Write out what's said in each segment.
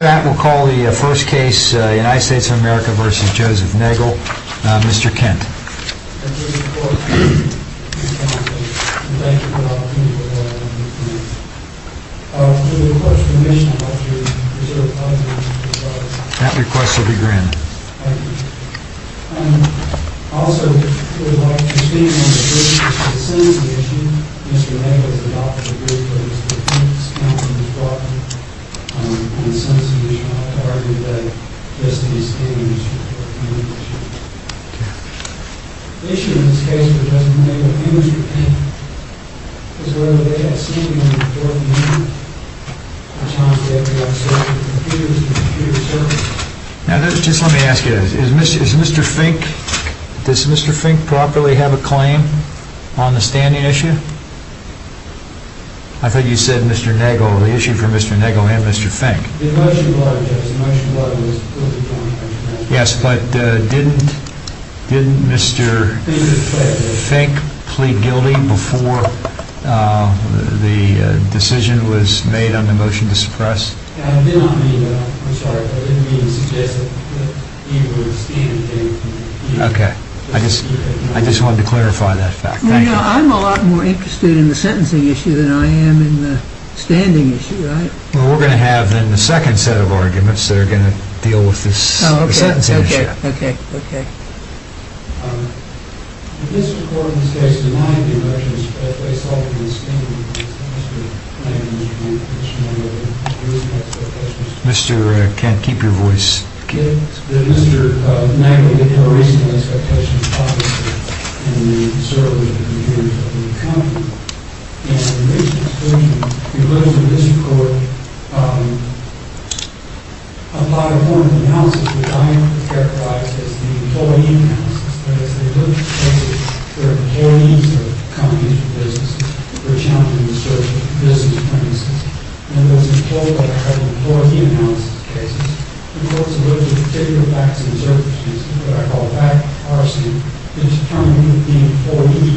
That will call the first case, United States of America v. Joseph Nagle, Mr. Kent. That request will be granted. The issue in this case with Joseph Nagle v. Kent is whether they had seen him before he moved. At times they had been outside with computers and computer circuits. Now just let me ask you, does Mr. Fink properly have a claim on the standing issue? I thought you said Mr. Nagle, the issue for Mr. Nagle and Mr. Fink. Yes, but didn't Mr. Fink plead guilty before the decision was made on the motion to suppress? I did not mean that. I'm sorry, I didn't mean to suggest that he would stand the case. Okay, I just wanted to clarify that fact. Thank you. Well, you know, I'm a lot more interested in the sentencing issue than I am in the standing issue, right? Well, we're going to have then the second set of arguments that are going to deal with this sentencing issue. Mr. Kent, keep your voice. As they look at it, they're employees of companies and businesses. They're challenging the search of business premises. And there's a quote that I have in the employee analysis cases. The quote is a little bit particular facts and observances. It's what I call a fact of the policy. It's determined that the employee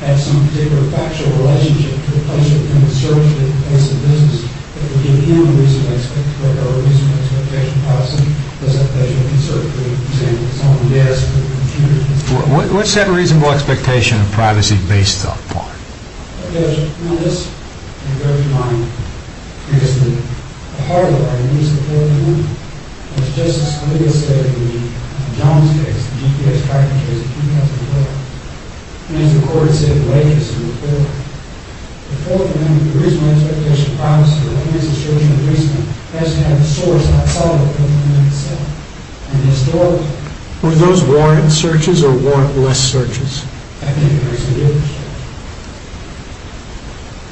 had some particular factual relationship to the person who was searching the place of business. If we give him a reasonable expectation of privacy, does that measure of concern? For example, someone who does have a computer. What's that reasonable expectation of privacy based upon? Well, Judge, on this, you have to keep in mind, because the heart of our reason for the ruling was Justice Scalia's statement in the Jones case, the GPS tracking case in 2012. And as the court had said, the legacy of the court. The Fourth Amendment, the reasonable expectation of privacy, the case of searching the basement, has to have the source of the problem in itself. And the historic... Would those warrant searches or warrant less searches? I think it makes a difference.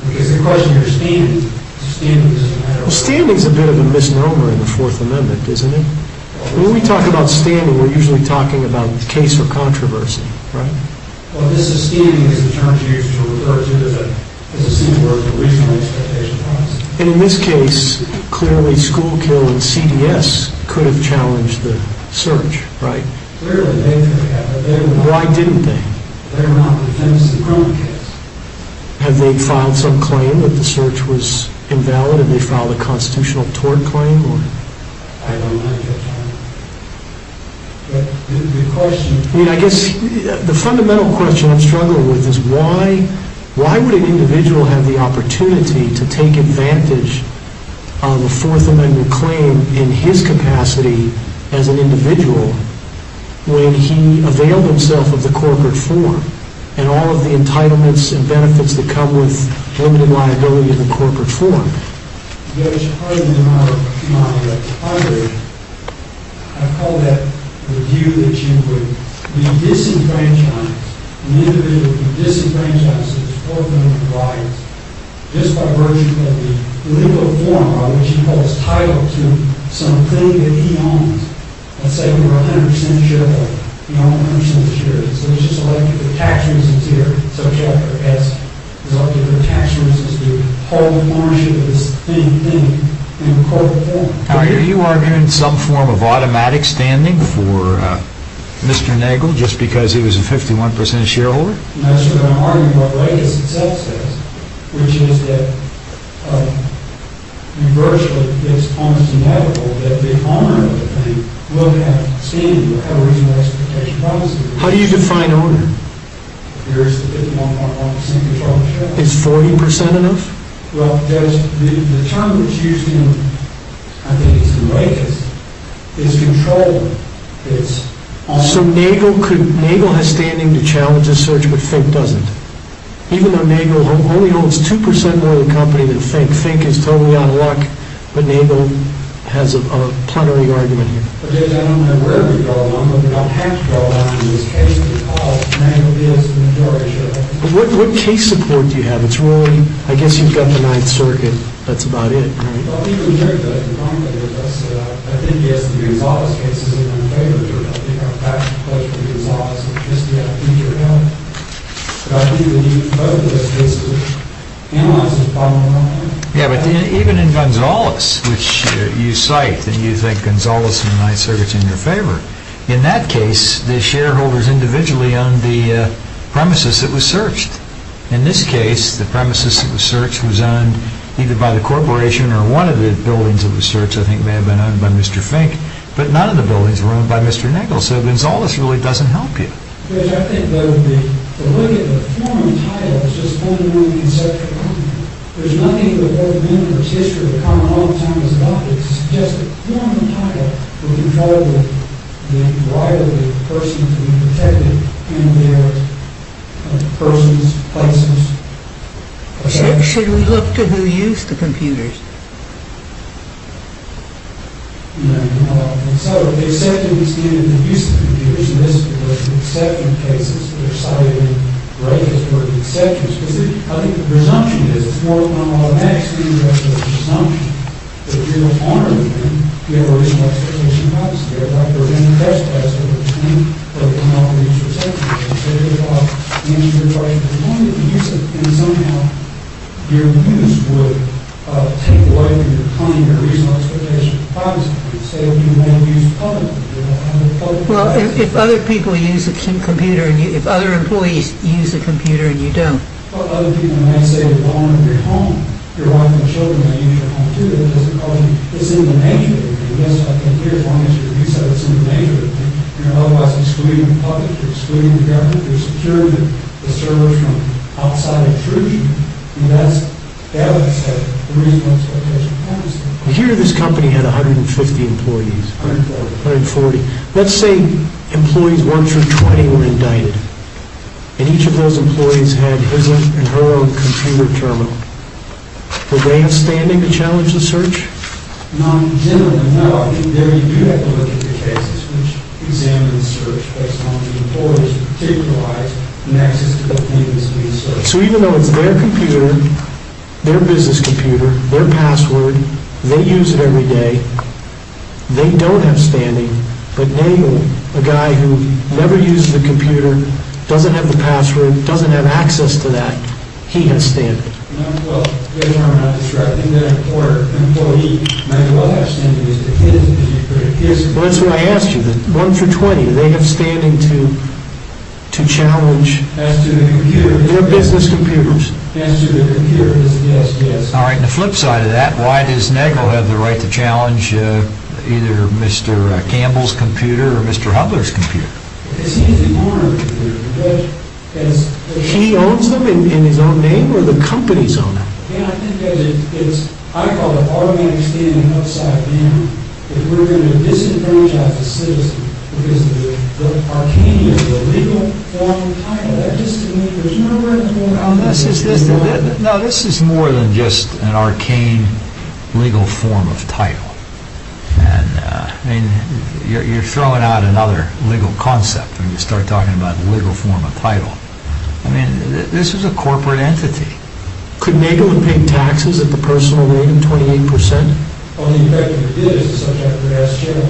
Because the question here is standing. Standing is a matter of... Well, standing is a bit of a misnomer in the Fourth Amendment, isn't it? When we talk about standing, we're usually talking about case or controversy, right? Well, this standing is a term used to refer to the reasonable expectation of privacy. And in this case, clearly, Schoolkill and CDS could have challenged the search, right? Clearly, they could have, but they were not. Why didn't they? They were not, because that's the criminal case. Have they filed some claim that the search was invalid? Have they filed a constitutional tort claim? I don't know, Judge Arnold. But the question... I mean, I guess the fundamental question I'm struggling with is why would an individual have the opportunity to take advantage of a Fourth Amendment claim in his capacity as an individual when he availed himself of the corporate form and all of the entitlements and benefits that come with limited liability of the corporate form? Judge Hartley, I call that the view that you would be disenfranchised, an individual who disenfranchises the Fourth Amendment rights just by virtue of the legal form on which he holds title to some thing that he owns. Let's say we were 100% shareholder. We own 100% of the shares. We're just elected for tax reasons here. We're just elected for tax reasons to hold ownership of this thing. Are you arguing some form of automatic standing for Mr. Nagel just because he was a 51% shareholder? No, sir. I'm arguing what Legis itself says, which is that virtually it's almost inevitable that the owner of the thing will have standing or have a reasonable expectation of privacy. How do you define owner? There is a 51.1% control of the shares. Is 40% enough? Well, Judge, the term that's used in, I think it's the latest, is control. So Nagel has standing to challenge this search, but Fink doesn't, even though Nagel only holds 2% more of the company than Fink. Fink is totally out of luck, but Nagel has a plenary argument here. Judge, I don't know where we go, but I'm going to have to go down to this case because Nagel is the majority shareholder. What case support do you have? I guess you've got the Ninth Circuit. That's about it, right? Well, even here, Judge, the point that you just said, I think, yes, the Gonzales case is in our favor here. I think our passion plays for the Gonzales. I guess we have a future here. But I think we need both of those cases to analyze this problem in our mind. Yeah, but even in Gonzales, which you cite, then you think Gonzales and the Ninth Circuit is in your favor. In that case, the shareholders individually owned the premises that was searched. In this case, the premises that was searched was owned either by the corporation or one of the buildings that was searched. I think it may have been owned by Mr. Fink, but none of the buildings were owned by Mr. Nagel. So Gonzales really doesn't help you. Judge, I think the look at the form and title is just one way to conceptualize it. There's nothing that the government or the judiciary or the common law of the time has adopted to suggest that form and title were controlled with the right of the person to be protected in their persons, places. Should we look to who used the computers? No, no, no. And so if they accepted these standards of use of computers, in this particular exception cases, they're cited in great historic exceptions, because I think the presumption is it's more of an automatic standard than it is a presumption. If you're the owner of the thing, you have a reasonable expectation of privacy. You're a doctor, you're in the best place at the time, but you're not going to use your cell phone, you're going to take it off, you answer your question, you're going to use it, and somehow your abuse would take away from your claim your reasonable expectation of privacy. You could say that you won't use publicly, you're not going to publicize it. Well, if other people use a computer, if other employees use a computer and you don't. Well, other people might say you're the owner of your home, your wife and children might use your home, too. That doesn't cause you, it's in the nature of the thing. Yes, I can hear as long as you say it's in the nature of the thing. You're otherwise excluding the public, you're excluding the government, you're securing the servers from outside intrusion. And that's, that's the reasonable expectation of privacy. Here this company had 150 employees. 140. 140. Let's say employees, one through 20, were indicted. And each of those employees had his or her own computer terminal. Would they have standing to challenge the search? No. Generally, no. There you do have to look at the cases which examine the search based on the employees' particular rights and access to the things being searched. So even though it's their computer, their business computer, their password, they use it every day, they don't have standing, but Nagel, a guy who never used the computer, doesn't have the password, doesn't have access to that, he has standing. Well, first of all, I'm not distracting that reporter. An employee might as well have standing. Well, that's what I asked you. One through 20, they have standing to challenge their business computers. As to the computer, yes, yes. All right, and the flip side of that, why does Nagel have the right to challenge either Mr. Campbell's computer or Mr. Hubler's computer? It's his own computer. He owns them in his own name, or the companies own them? Yeah, I think it's, I call it automatic standing and upside down, if we're going to disenfranchise the citizen, because the arcane is the legal form of the title. That just to me, there's no right or wrong. No, this is more than just an arcane legal form of title. I mean, you're throwing out another legal concept when you start talking about the legal form of title. I mean, this is a corporate entity. Could Nagel have been paying taxes at the personal rate of 28%? Well, the effect that it did is the subject of the last check. I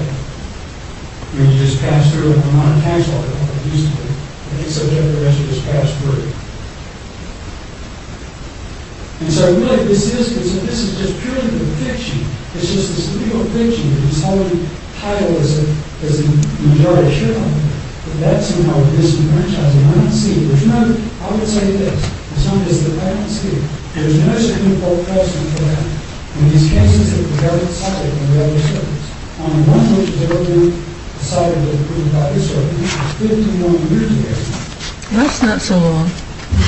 mean, you just pass through an amount of tax law, and the subject of the measure is passed through. And so, really, this is just purely fiction. It's just this legal fiction, and this whole title is the majority shareholder. But that's somehow disenfranchising. I would say this, as long as the patent's here, there's no significant precedent for that. In these cases, there's a valid side and a valid surface. The only one which has ever been decidedly approved by this court is 51 years ago. That's not so long. I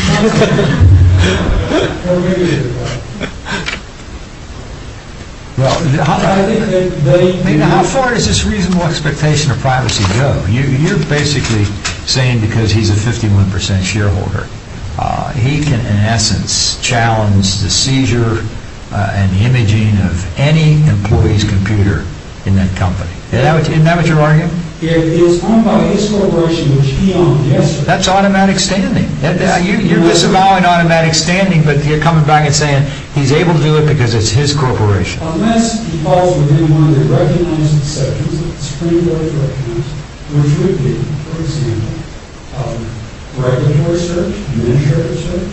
mean, how far does this reasonable expectation of privacy go? You're basically saying because he's a 51% shareholder, he can, in essence, challenge the seizure and imaging of any employee's computer in that company. Isn't that what you're arguing? It's talking about his corporation, which he owned yesterday. That's automatic standing. You're disavowing automatic standing, but you're coming back and saying he's able to do it because it's his corporation. Unless he falls within one of the recognized exceptions, it's pretty hard to recognize, which would be, for example, regulatory search, administrative search,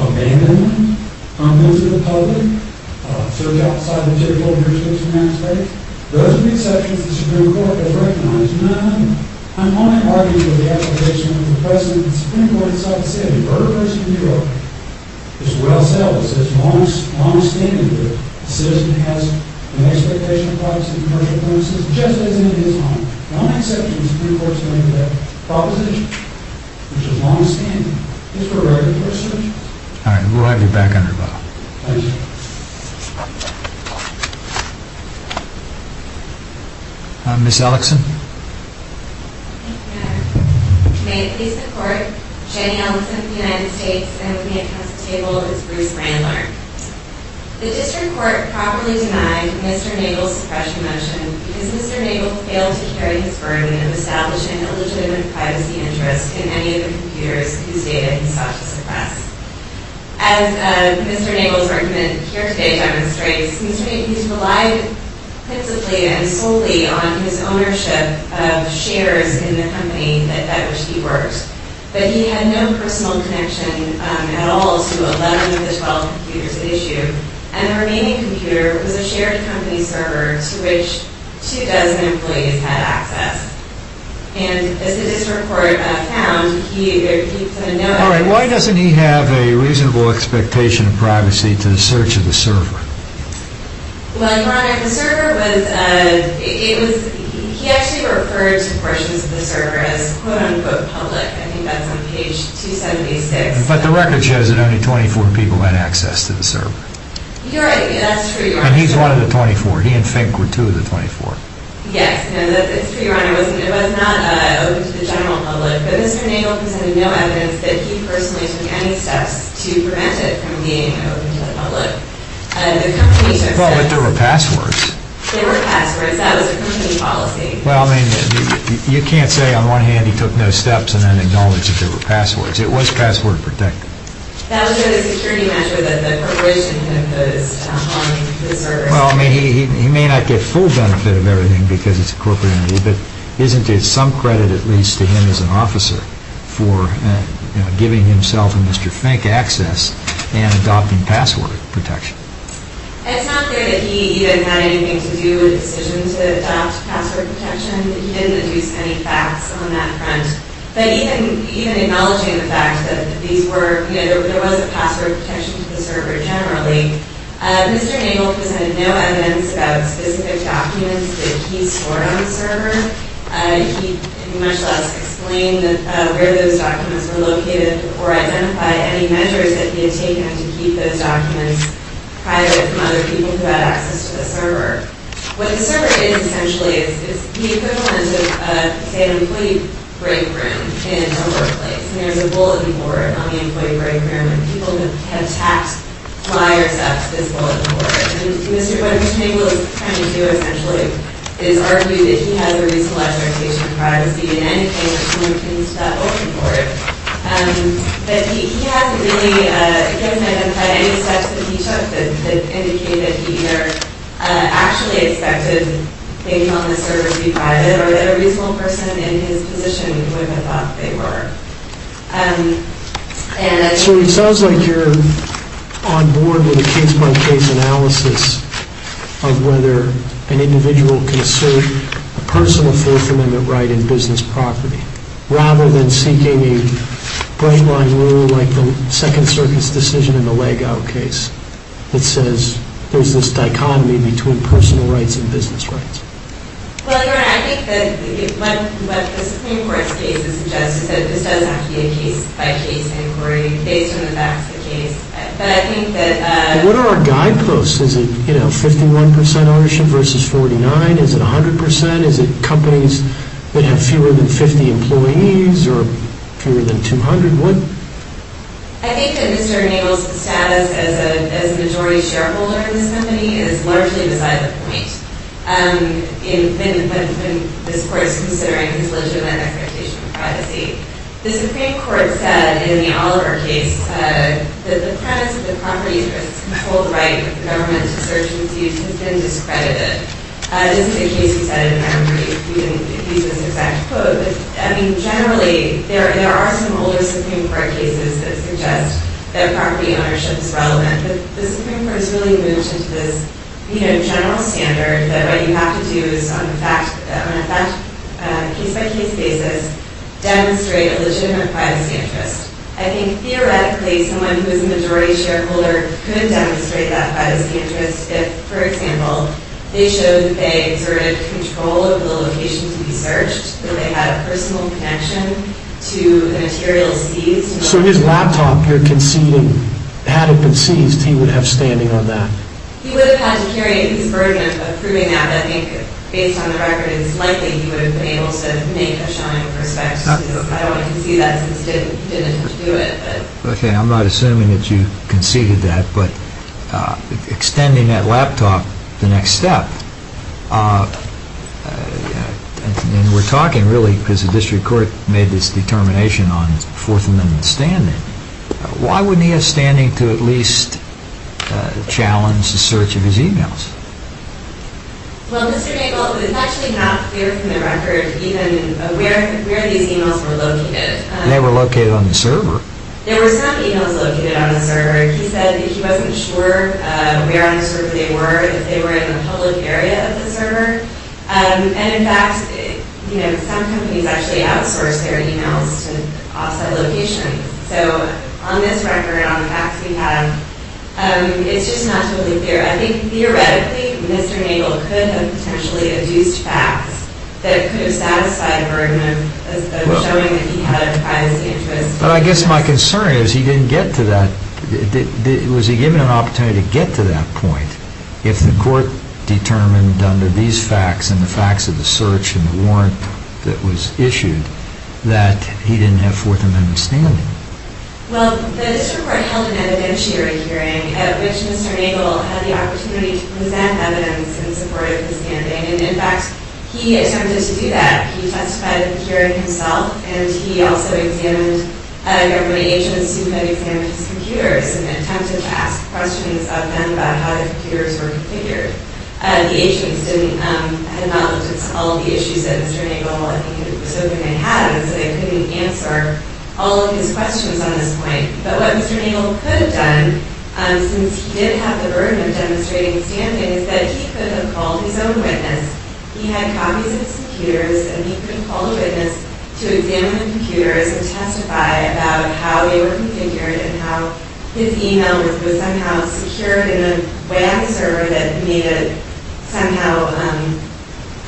abandonment of those to the public, search outside of the typical jurisdiction aspect. Those are the exceptions the Supreme Court has recognized. None of them. I'm only arguing for the application of the President of the Supreme Court in South D.C. on the murder case in New York. It's well-established, it's long-standing, that a citizen has an expectation of privacy and commercial premises, just as in his home. The only exception the Supreme Court has made to that proposition, which is long-standing, is for regulatory search. All right, we'll have you back on your bow. Thank you. Ms. Ellickson? Thank you, Your Honor. May it please the Court, Jenny Ellickson of the United States, and with me at Council Table is Bruce Randler. The District Court properly denied Mr. Nagle's suppression motion because Mr. Nagle failed to carry his burden of establishing a legitimate privacy interest in any of the computers whose data he sought to suppress. As Mr. Nagle's argument here today demonstrates, he's relied principally and solely on his ownership of shares in the company at which he worked, but he had no personal connection at all to 11 of the 12 computers at issue, and the remaining computer was a shared company server to which two dozen employees had access. And as the District Court found, he had no... All right, why doesn't he have a reasonable expectation of privacy to the search of the server? Well, Your Honor, the server was... He actually referred to portions of the server as quote-unquote public. I think that's on page 276. But the record shows that only 24 people had access to the server. You're right, that's true, Your Honor. And he's one of the 24. He and Fink were two of the 24. Yes. No, that's true, Your Honor. It was not open to the general public, but Mr. Nagle presented no evidence that he personally took any steps to prevent it from being open to the public. The company just said... Well, but there were passwords. There were passwords. That was the company policy. Well, I mean, you can't say on one hand he took no steps and then acknowledged that there were passwords. It was password protected. That was a security measure that the corporation imposed on the server. Well, I mean, he may not get full benefit of everything because it's a corporate entity, but isn't there some credit at least to him as an officer for giving himself and Mr. Fink access and adopting password protection? It's not clear that he had anything to do with the decision to adopt password protection. He didn't introduce any facts on that front. But even acknowledging the fact that there was a password protection to the server generally, Mr. Nagle presented no evidence about specific documents that he stored on the server. He much less explained where those documents were located or identified any measures that he had taken to keep those documents private from other people who had access to the server. What the server is essentially is the equivalent of, say, an employee break room in a workplace. And there's a bulletin board on the employee break room and people have tapped flyers up to this bulletin board. And what Mr. Nagle is trying to do, essentially, is argue that he has a reasonable expectation of privacy in any case, and he's open for it. But he hasn't identified any steps that he took that indicate that he either actually expected things on the server to be private or that a reasonable person in his position would have thought they were. So it sounds like you're on board with a case-by-case analysis of whether an individual can assert a personal fourth amendment right in business property, rather than seeking a break line rule like the Second Circus decision in the Legout case that says there's this dichotomy between personal rights and business rights. Well, your Honor, I think that what the Supreme Court's case suggests is that this does have to be a case-by-case inquiry based on the facts of the case. But I think that... What are our guideposts? Is it 51% ownership versus 49? Is it 100%? Is it companies that have fewer than 50 employees or fewer than 200? I think that Mr. Nagle's status as a majority shareholder in this company is largely beside the point. When this Court's considering his legitimate expectation of privacy. The Supreme Court said in the Oliver case that the premise of the property's versus controlled right of the government to search and seize has been discredited. This is a case we said in memory. We didn't use this exact quote. But, I mean, generally, there are some older Supreme Court cases that suggest that property ownership is relevant. But the Supreme Court has really moved into this general standard that what you have to do is, on a case-by-case basis, demonstrate a legitimate privacy interest. I think, theoretically, someone who is a majority shareholder could demonstrate that privacy interest if, for example, they showed that they exerted control over the location to be searched, that they had a personal connection to the material seized. So his laptop here conceding, had it been seized, he would have standing on that? He would have had to carry his burden of proving that. But I think, based on the record, it's likely he would have been able to make a showing with respect to this. I don't want to concede that since he didn't have to do it. Okay, I'm not assuming that you conceded that. But extending that laptop, the next step, and we're talking, really, because the District Court made this determination on Fourth Amendment standing, why wouldn't he have standing to at least challenge the search of his e-mails? Well, Mr. Nagle, it's actually not clear from the record even where these e-mails were located. They were located on the server. There were some e-mails located on the server. He said that he wasn't sure where on the server they were, if they were in the public area of the server. And, in fact, some companies actually outsource their e-mails to off-site locations. So on this record, on the facts we have, it's just not totally clear. Theoretically, Mr. Nagle could have potentially adduced facts that could have satisfied a burden of showing that he had a biased interest. But I guess my concern is he didn't get to that. Was he given an opportunity to get to that point if the Court determined under these facts and the facts of the search and the warrant that was issued that he didn't have Fourth Amendment standing? Well, the District Court held an evidentiary hearing at which Mr. Nagle had the opportunity to present evidence in support of his standing. And, in fact, he attempted to do that. He testified in the hearing himself, and he also examined government agents who had examined his computers and attempted to ask questions of them about how their computers were configured. The agents had not looked at all the issues that Mr. Nagle, I think, had had, so they couldn't answer all of his questions on this point. But what Mr. Nagle could have done, since he did have the burden of demonstrating standing, is that he could have called his own witness. He had copies of his computers, and he could have called a witness to examine the computers and testify about how they were configured and how his email was somehow secured in a way on the server that made it somehow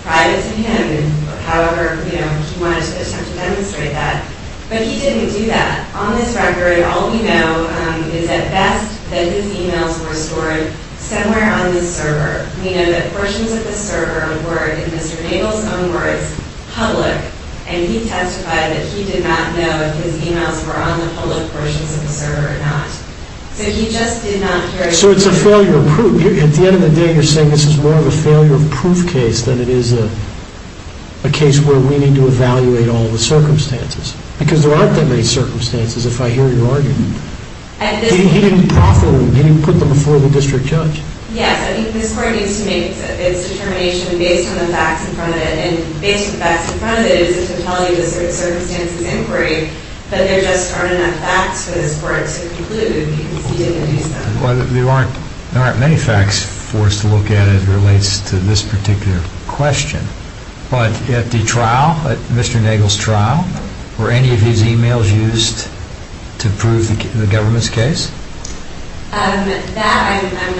private to him, however he wanted to attempt to demonstrate that. But he didn't do that. On this record, all we know is, at best, that his emails were stored somewhere on the server. We know that portions of the server were, in Mr. Nagle's own words, public. And he testified that he did not know if his emails were on the public portions of the server or not. So he just did not care. So it's a failure of proof. At the end of the day, you're saying this is more of a failure of proof case than it is a case where we need to evaluate all the circumstances. Because there aren't that many circumstances, if I hear your argument. He didn't put them before the district judge. Yes, I think this court needs to make its determination based on the facts in front of it. And based on the facts in front of it, it doesn't tell you the circumstances of inquiry, but there just aren't enough facts for this court to conclude. You can see it in the case file. Well, there aren't many facts for us to look at as it relates to this particular question. But at the trial, at Mr. Nagle's trial, were any of his emails used to prove the government's case? That, I'm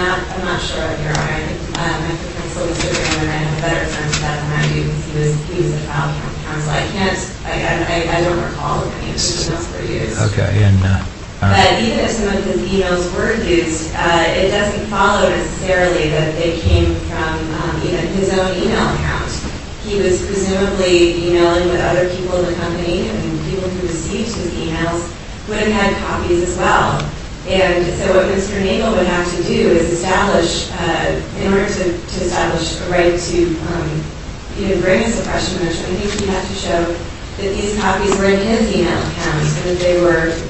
not sure. I have a better sense of that than I do, because he was a file count counsel. I don't recall any of his emails were used. But even if some of his emails were used, it doesn't follow necessarily that they came from his own email account. He was presumably emailing with other people in the company, and people who received his emails would have had copies as well. And so what Mr. Nagle would have to do is establish, in order to establish a right to even bring a suppression measure, I think he would have to show that these copies were in his email account, and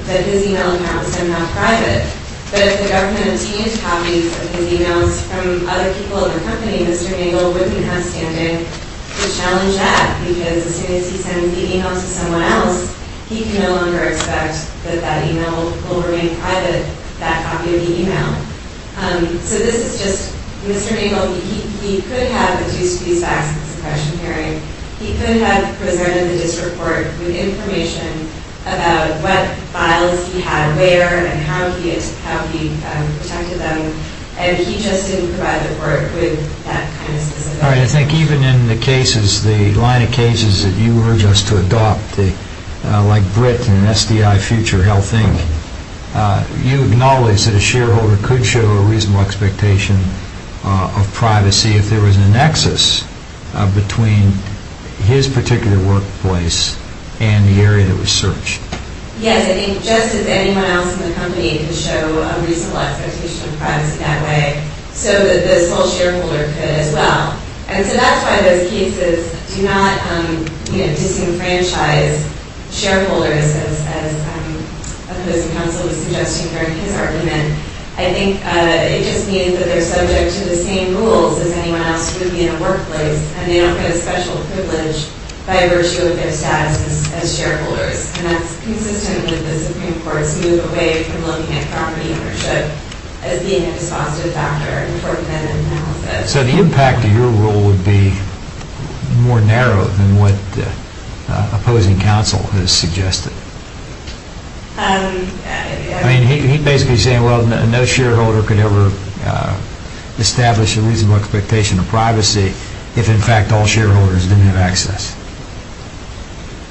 that his email account was somehow private. But if the government obtained copies of his emails from other people in the company, Mr. Nagle wouldn't have standing to challenge that, because as soon as he sends the email to someone else, he can no longer expect that that email will remain private, that copy of the email. So this is just, Mr. Nagle, he could have produced these facts in the suppression hearing. He could have presented the district court with information about what files he had where, and how he protected them, and he just didn't provide the court with that kind of specific information. All right, I think even in the cases, the line of cases that you urge us to adopt, like Britt and SDI Future Health Inc., you acknowledge that a shareholder could show a reasonable expectation of privacy if there was a nexus between his particular workplace and the area that was searched. Yes, I think just as anyone else in the company could show a reasonable expectation of privacy that way, so that this whole shareholder could as well. And so that's why those cases do not disenfranchise shareholders, as the opposing counsel was suggesting during his argument. I think it just means that they're subject to the same rules as anyone else would be in a workplace, and they don't get a special privilege by virtue of their status as shareholders. And that's consistent with the Supreme Court's move away from looking at property ownership as being a dispositive factor for preventative analysis. So the impact of your rule would be more narrow than what opposing counsel has suggested. I mean, he's basically saying, well, no shareholder could ever establish a reasonable expectation of privacy if, in fact, all shareholders didn't have access.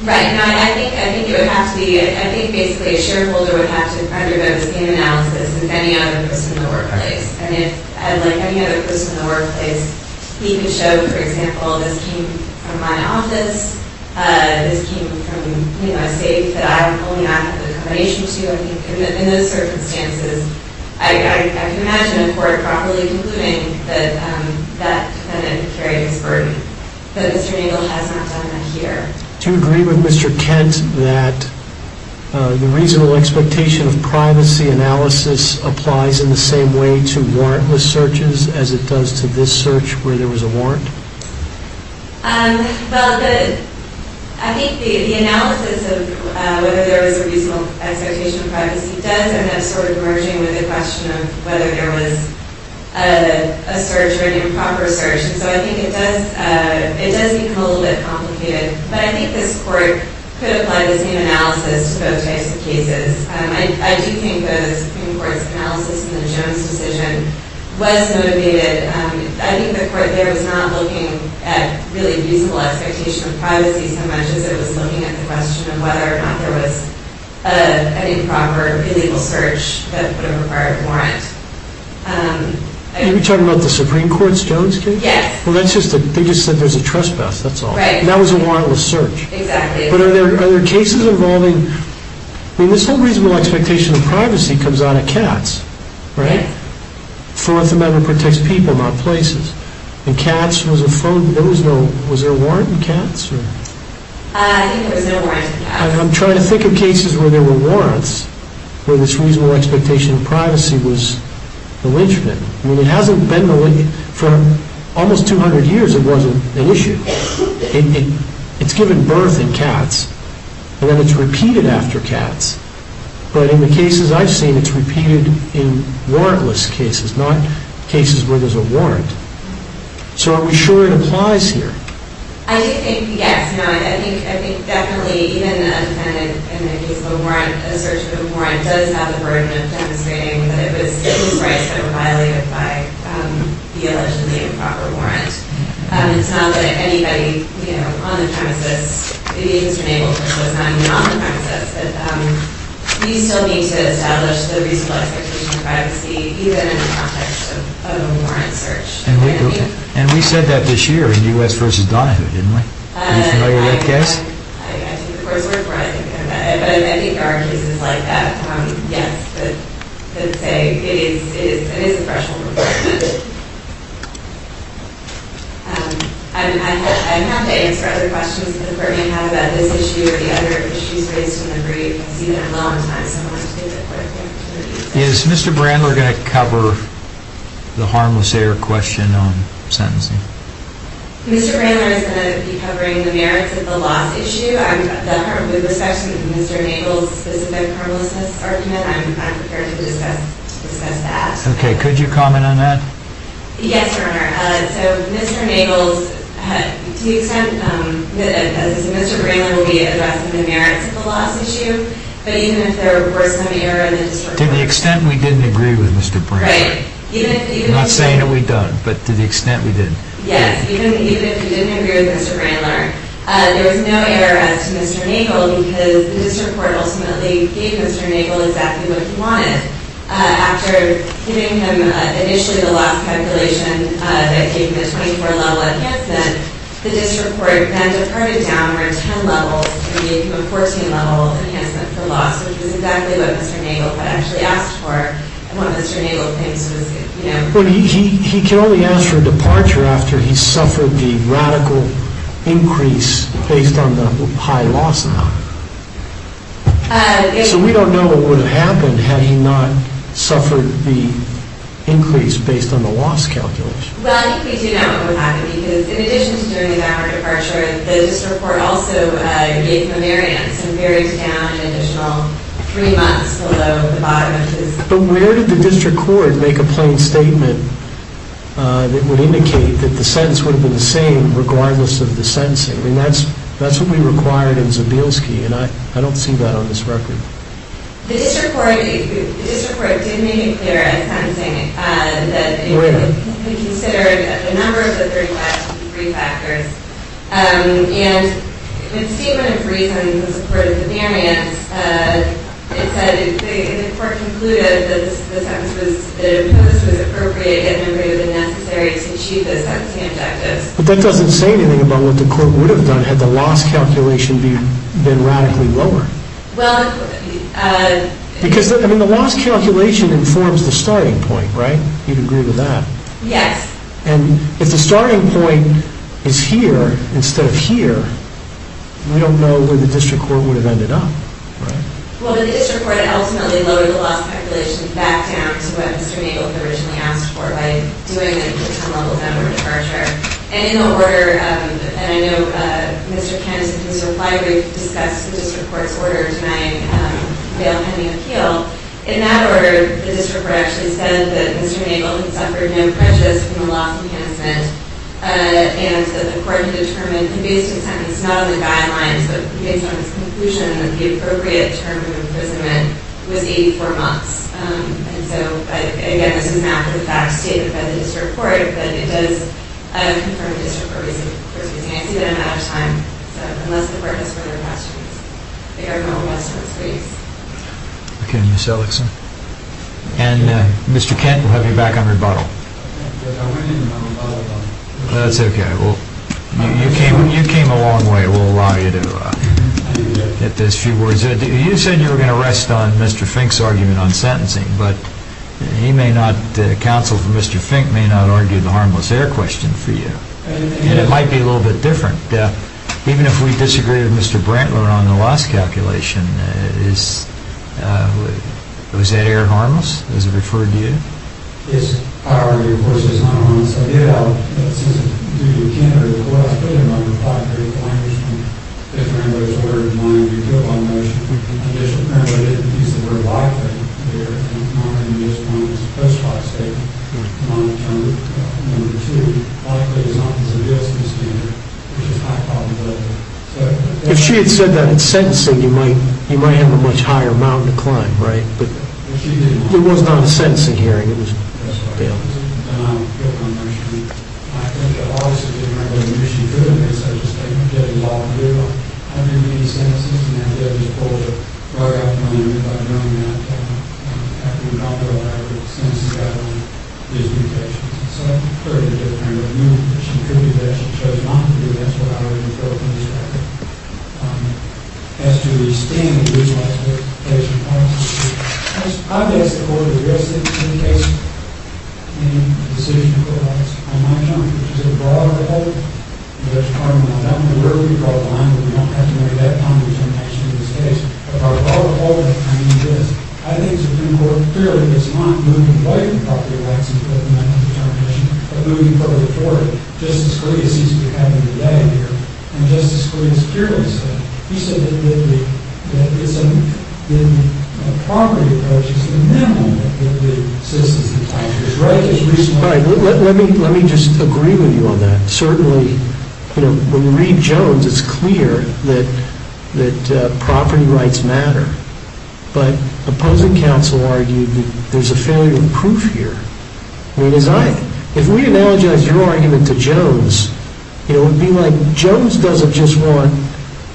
Right, and I think basically a shareholder would have to undergo the same analysis as any other person in the workplace. And if, like any other person in the workplace, he could show, for example, this came from my office, this came from, you know, a safe that I only have the accommodation to, in those circumstances, I can imagine a court properly concluding that that defendant carried his burden, that Mr. Nagle has not done that here. Do you agree with Mr. Kent that the reasonable expectation of privacy analysis applies in the same way to warrantless searches as it does to this search where there was a warrant? Well, I think the analysis of whether there was a reasonable expectation of privacy does end up sort of merging with the question of whether there was a search or an improper search. And so I think it does become a little bit complicated. But I think this Court could apply this new analysis to both types of cases. I do think the Supreme Court's analysis in the Jones decision was motivated. I think the Court there was not looking at really reasonable expectation of privacy so much as it was looking at the question of whether or not there was an improper, illegal search that would have required a warrant. Are you talking about the Supreme Court's Jones case? Yes. Well, they just said there's a trespass, that's all. Right. And that was a warrantless search. Exactly. But are there cases involving... I mean, this whole reasonable expectation of privacy comes out of Katz, right? Fourth Amendment protects people, not places. In Katz, was there a warrant in Katz? I think there was no warrant in Katz. I'm trying to think of cases where there were warrants where this reasonable expectation of privacy was malignant. I mean, it hasn't been malignant... For almost 200 years, it wasn't an issue. It's given birth in Katz, and then it's repeated after Katz. But in the cases I've seen, it's repeated in warrantless cases, not cases where there's a warrant. So are we sure it applies here? I do think, yes. I think definitely even a defendant in the case of a warrant, a search of a warrant, does have the burden of demonstrating that it was civil rights that were violated by the allegedly improper warrant. It's not that anybody, you know, on the premises, it is enabled, and it was not on the premises. But we still need to establish the reasonable expectation of privacy, even in the context of a warrant search. And we said that this year in U.S. v. Donahue, didn't we? Are you familiar with that case? I took the coursework for it. But I think there are cases like that, yes, that say it is a threshold requirement. I have to answer other questions that the Court may have about this issue or the other issues raised in the brief. I've seen it a long time, so I wanted to take a quick opportunity. Is Mr. Brandler going to cover the harmless error question on sentencing? Mr. Brandler is going to be covering the merits of the loss issue. With respect to Mr. Nagle's specific harmlessness argument, I'm prepared to discuss that. Okay. Could you comment on that? Yes, Your Honor. So Mr. Nagle's, to the extent that Mr. Brandler will be addressing the merits of the loss issue, but even if there were some error in the district court… To the extent we didn't agree with Mr. Brandler. Right. I'm not saying that we don't, but to the extent we did. Yes. Even if we didn't agree with Mr. Brandler, there was no error as to Mr. Nagle because the district court ultimately gave Mr. Nagle exactly what he wanted. After giving him initially the loss calculation that gave him a 24-level enhancement, the district court then departed downward 10 levels to give him a 14-level enhancement for loss, which is exactly what Mr. Nagle had actually asked for and what Mr. Nagle claims was, you know… He can only ask for a departure after he suffered the radical increase based on the high loss amount. So we don't know what would have happened had he not suffered the increase based on the loss calculation. Well, we do know what would have happened because in addition to doing the downward departure, the district court also gave him a variance and buried it down an additional three months below the bottom of his… But where did the district court make a plain statement that would indicate that the sentence would have been the same regardless of the sentencing? I mean, that's what we required in Zabielski, and I don't see that on this record. The district court did make it clear at sentencing that it would be considering a number of the three factors and in a statement of reason in support of the variance, it said, and the court concluded, that the sentence that it imposed was appropriate and that it was necessary to achieve the sentencing objectives. But that doesn't say anything about what the court would have done had the loss calculation been radically lower. Well… Because, I mean, the loss calculation informs the starting point, right? You'd agree with that. Yes. And if the starting point is here instead of here, we don't know where the district court would have ended up, right? Well, the district court ultimately lowered the loss calculation back down to what Mr. Nagel had originally asked for by doing it at some level of downward departure. And in the order, and I know Mr. Kansas, in his reply, we discussed the district court's order denying bail pending appeal. In that order, the district court actually said that Mr. Nagel had suffered no prejudice in the loss enhancement and that the court had determined, and based on the sentence, not on the guidelines, but based on its conclusion, that the appropriate term of imprisonment was 84 months. And so, again, this is not for the facts stated by the district court, but it does confirm the district court's reasoning. I see that I'm out of time, so unless the court has further questions, they are going to request a response. Okay, Ms. Ellickson. And Mr. Kent, we'll have you back on rebuttal. That's okay. Well, you came a long way. We'll allow you to get those few words in. You said you were going to rest on Mr. Fink's argument on sentencing, but he may not, the counsel for Mr. Fink, may not argue the harmless error question for you. And it might be a little bit different. Even if we disagree with Mr. Brantler on the loss calculation, is that error harmless, as referred to you? It's hourly, of course. If she had said that in sentencing, you might have a much higher mountain to climb, right? It was not a sentencing hearing. I've asked the court the rest of the case, and the decision of the court office, on my term, which is a broader hold, and there's a pardon on that one, but wherever we draw the line, we don't have to marry that pond which I'm actually in this case. A broader hold, I mean, is, I think it's important, clearly, it's not moving away from property rights and putting that on the termination, but moving further forward. Justice Scalia seems to be having a bad year, and Justice Scalia is curious. He said that in the property approach, it's the men who are the citizens of the country. Let me just agree with you on that. Certainly, when we read Jones, it's clear that property rights matter, but opposing counsel argued that there's a failure of proof here. If we analogize your argument to Jones, it would be like Jones doesn't just want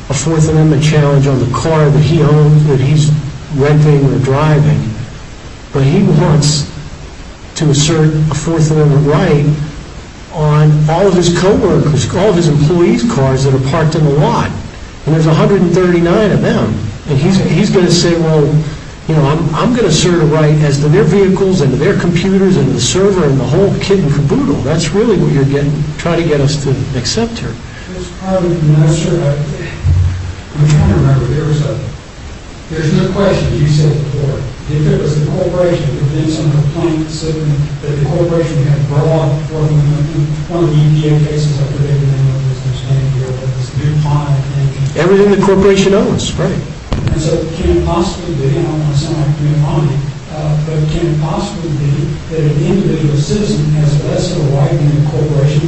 a Fourth Amendment challenge on the car that he owns, that he's renting or driving, but he wants to assert a Fourth Amendment right on all of his co-workers, all of his employees' cars that are parked in the lot, and there's 139 of them, and he's going to say, well, I'm going to assert a right as to their vehicles and their computers and the server and the whole kit and caboodle. That's really what you're trying to get us to accept here. Everything the corporation owns, right. The corporations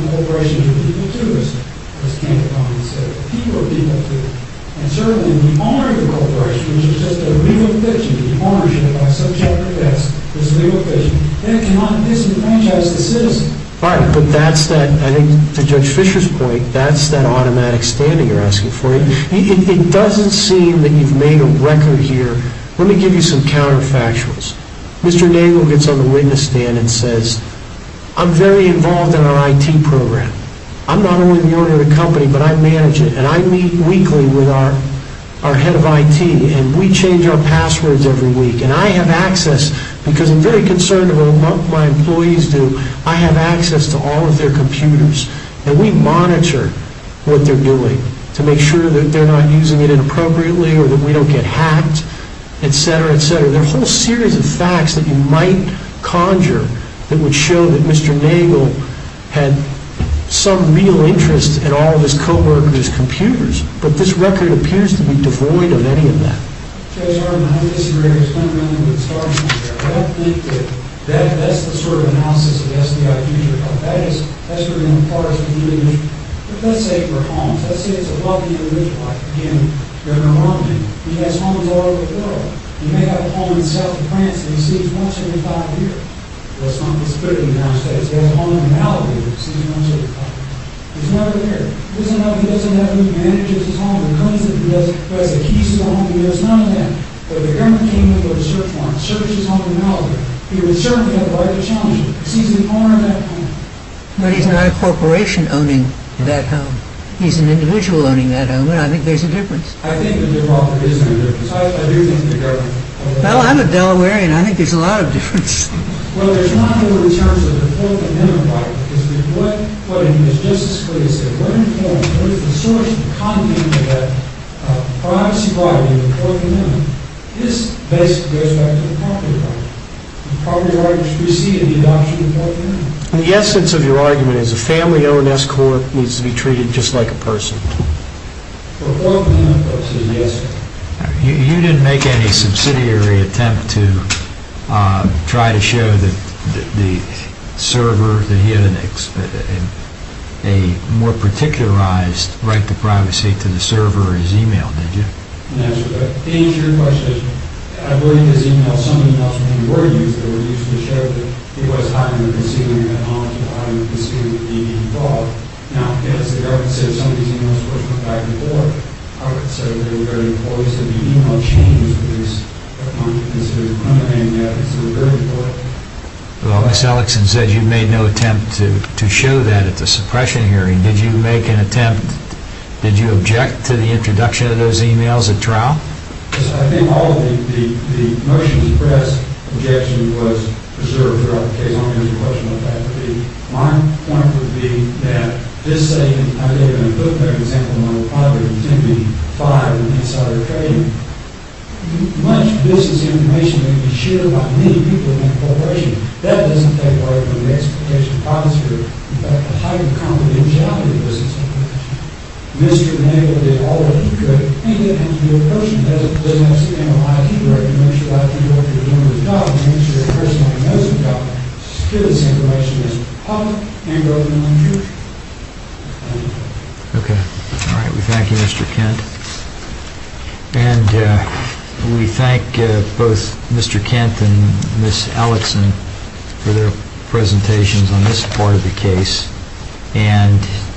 are people too, isn't it? And certainly, if we honor the corporation, which is just a legal fiction, if we honor it by subject to test, it's a legal fiction, then it cannot disenfranchise the citizen. All right, but that's that, I think to Judge Fischer's point, that's that automatic standing you're asking for. It doesn't seem that you've made a record here. Let me give you some counterfactuals. Mr. Nagle gets on the witness stand and says, I'm very involved in our IT program. I'm not only the owner of the company, but I manage it, and I meet weekly with our head of IT, and we change our passwords every week, and I have access, because I'm very concerned about what my employees do, I have access to all of their computers, and we monitor what they're doing to make sure that they're not using it inappropriately or that we don't get hacked, etc., etc. There are a whole series of facts that you might conjure that would show that Mr. Nagle had some real interest in all of his co-workers' computers, but this record appears to be devoid of any of that. I don't disagree. I don't think that that's the sort of analysis of the SBI Future Fund. That's sort of in the parts of dealing with, let's say, for homes. Let's say it's a wealthy individual, like, again, Governor Romney. He has homes all over the world. He may have a home in the south of France that he sees once every five years. Well, it's not this building downstairs. He has a home in Malibu that he sees once every five years. He's never there. He doesn't know who manages his home, who cleans it, who has the keys to the home, and he knows none of that. But if the governor came in with a search warrant, searched his home in Malibu, he would certainly have the right to challenge him. He sees the owner of that home. But he's not a corporation owning that home. He's an individual owning that home, and I think there's a difference. I think there is a difference. I do think the governor... Well, I'm a Delawarean. I think there's a lot of difference. Well, there's not really in terms of the fourth amendment right. What I mean is just as clearly said. What is the source of the content of that privacy right in the fourth amendment? This basically goes back to the property right. The property right preceded the adoption of the fourth amendment. The essence of your argument is a family-owned escort needs to be treated just like a person. The fourth amendment is a yes. You didn't make any subsidiary attempt to try to show that the server, that he had a more particularized right to privacy to the server or his e-mail, did you? That's correct. To answer your question, I believe his e-mail, some of the e-mails when they were used, they were used to show that he was highly conceiving of technology, highly conceiving of being involved. Now, yes, the government said some of these e-mails of course went back and forth. The government said that they were very important. They said the e-mail changes with these technology-considered underhand methods. They were very important. Well, Ms. Ellickson said you made no attempt to show that at the suppression hearing. Did you make an attempt? Did you object to the introduction of those e-mails at trial? Yes, I think all of the motions of press objection was preserved throughout the case. I'm going to answer your question about that. My point would be that just saying I gave an example of a private entity, five insider trading, much of this is information that can be shared by many people in that corporation. That doesn't take away from the expectation of privacy. In fact, the higher confidentiality of this information. Mr. Nagle did all that he could and yet he's a person. He doesn't have some kind of ID record to make sure that he knows that he's doing his job and makes sure he personally knows about it. Still, this information is public and government-run information. Thank you. Okay. All right, we thank you, Mr. Kent. And we thank both Mr. Kent and Ms. Ellickson for their presentations on this part of the case.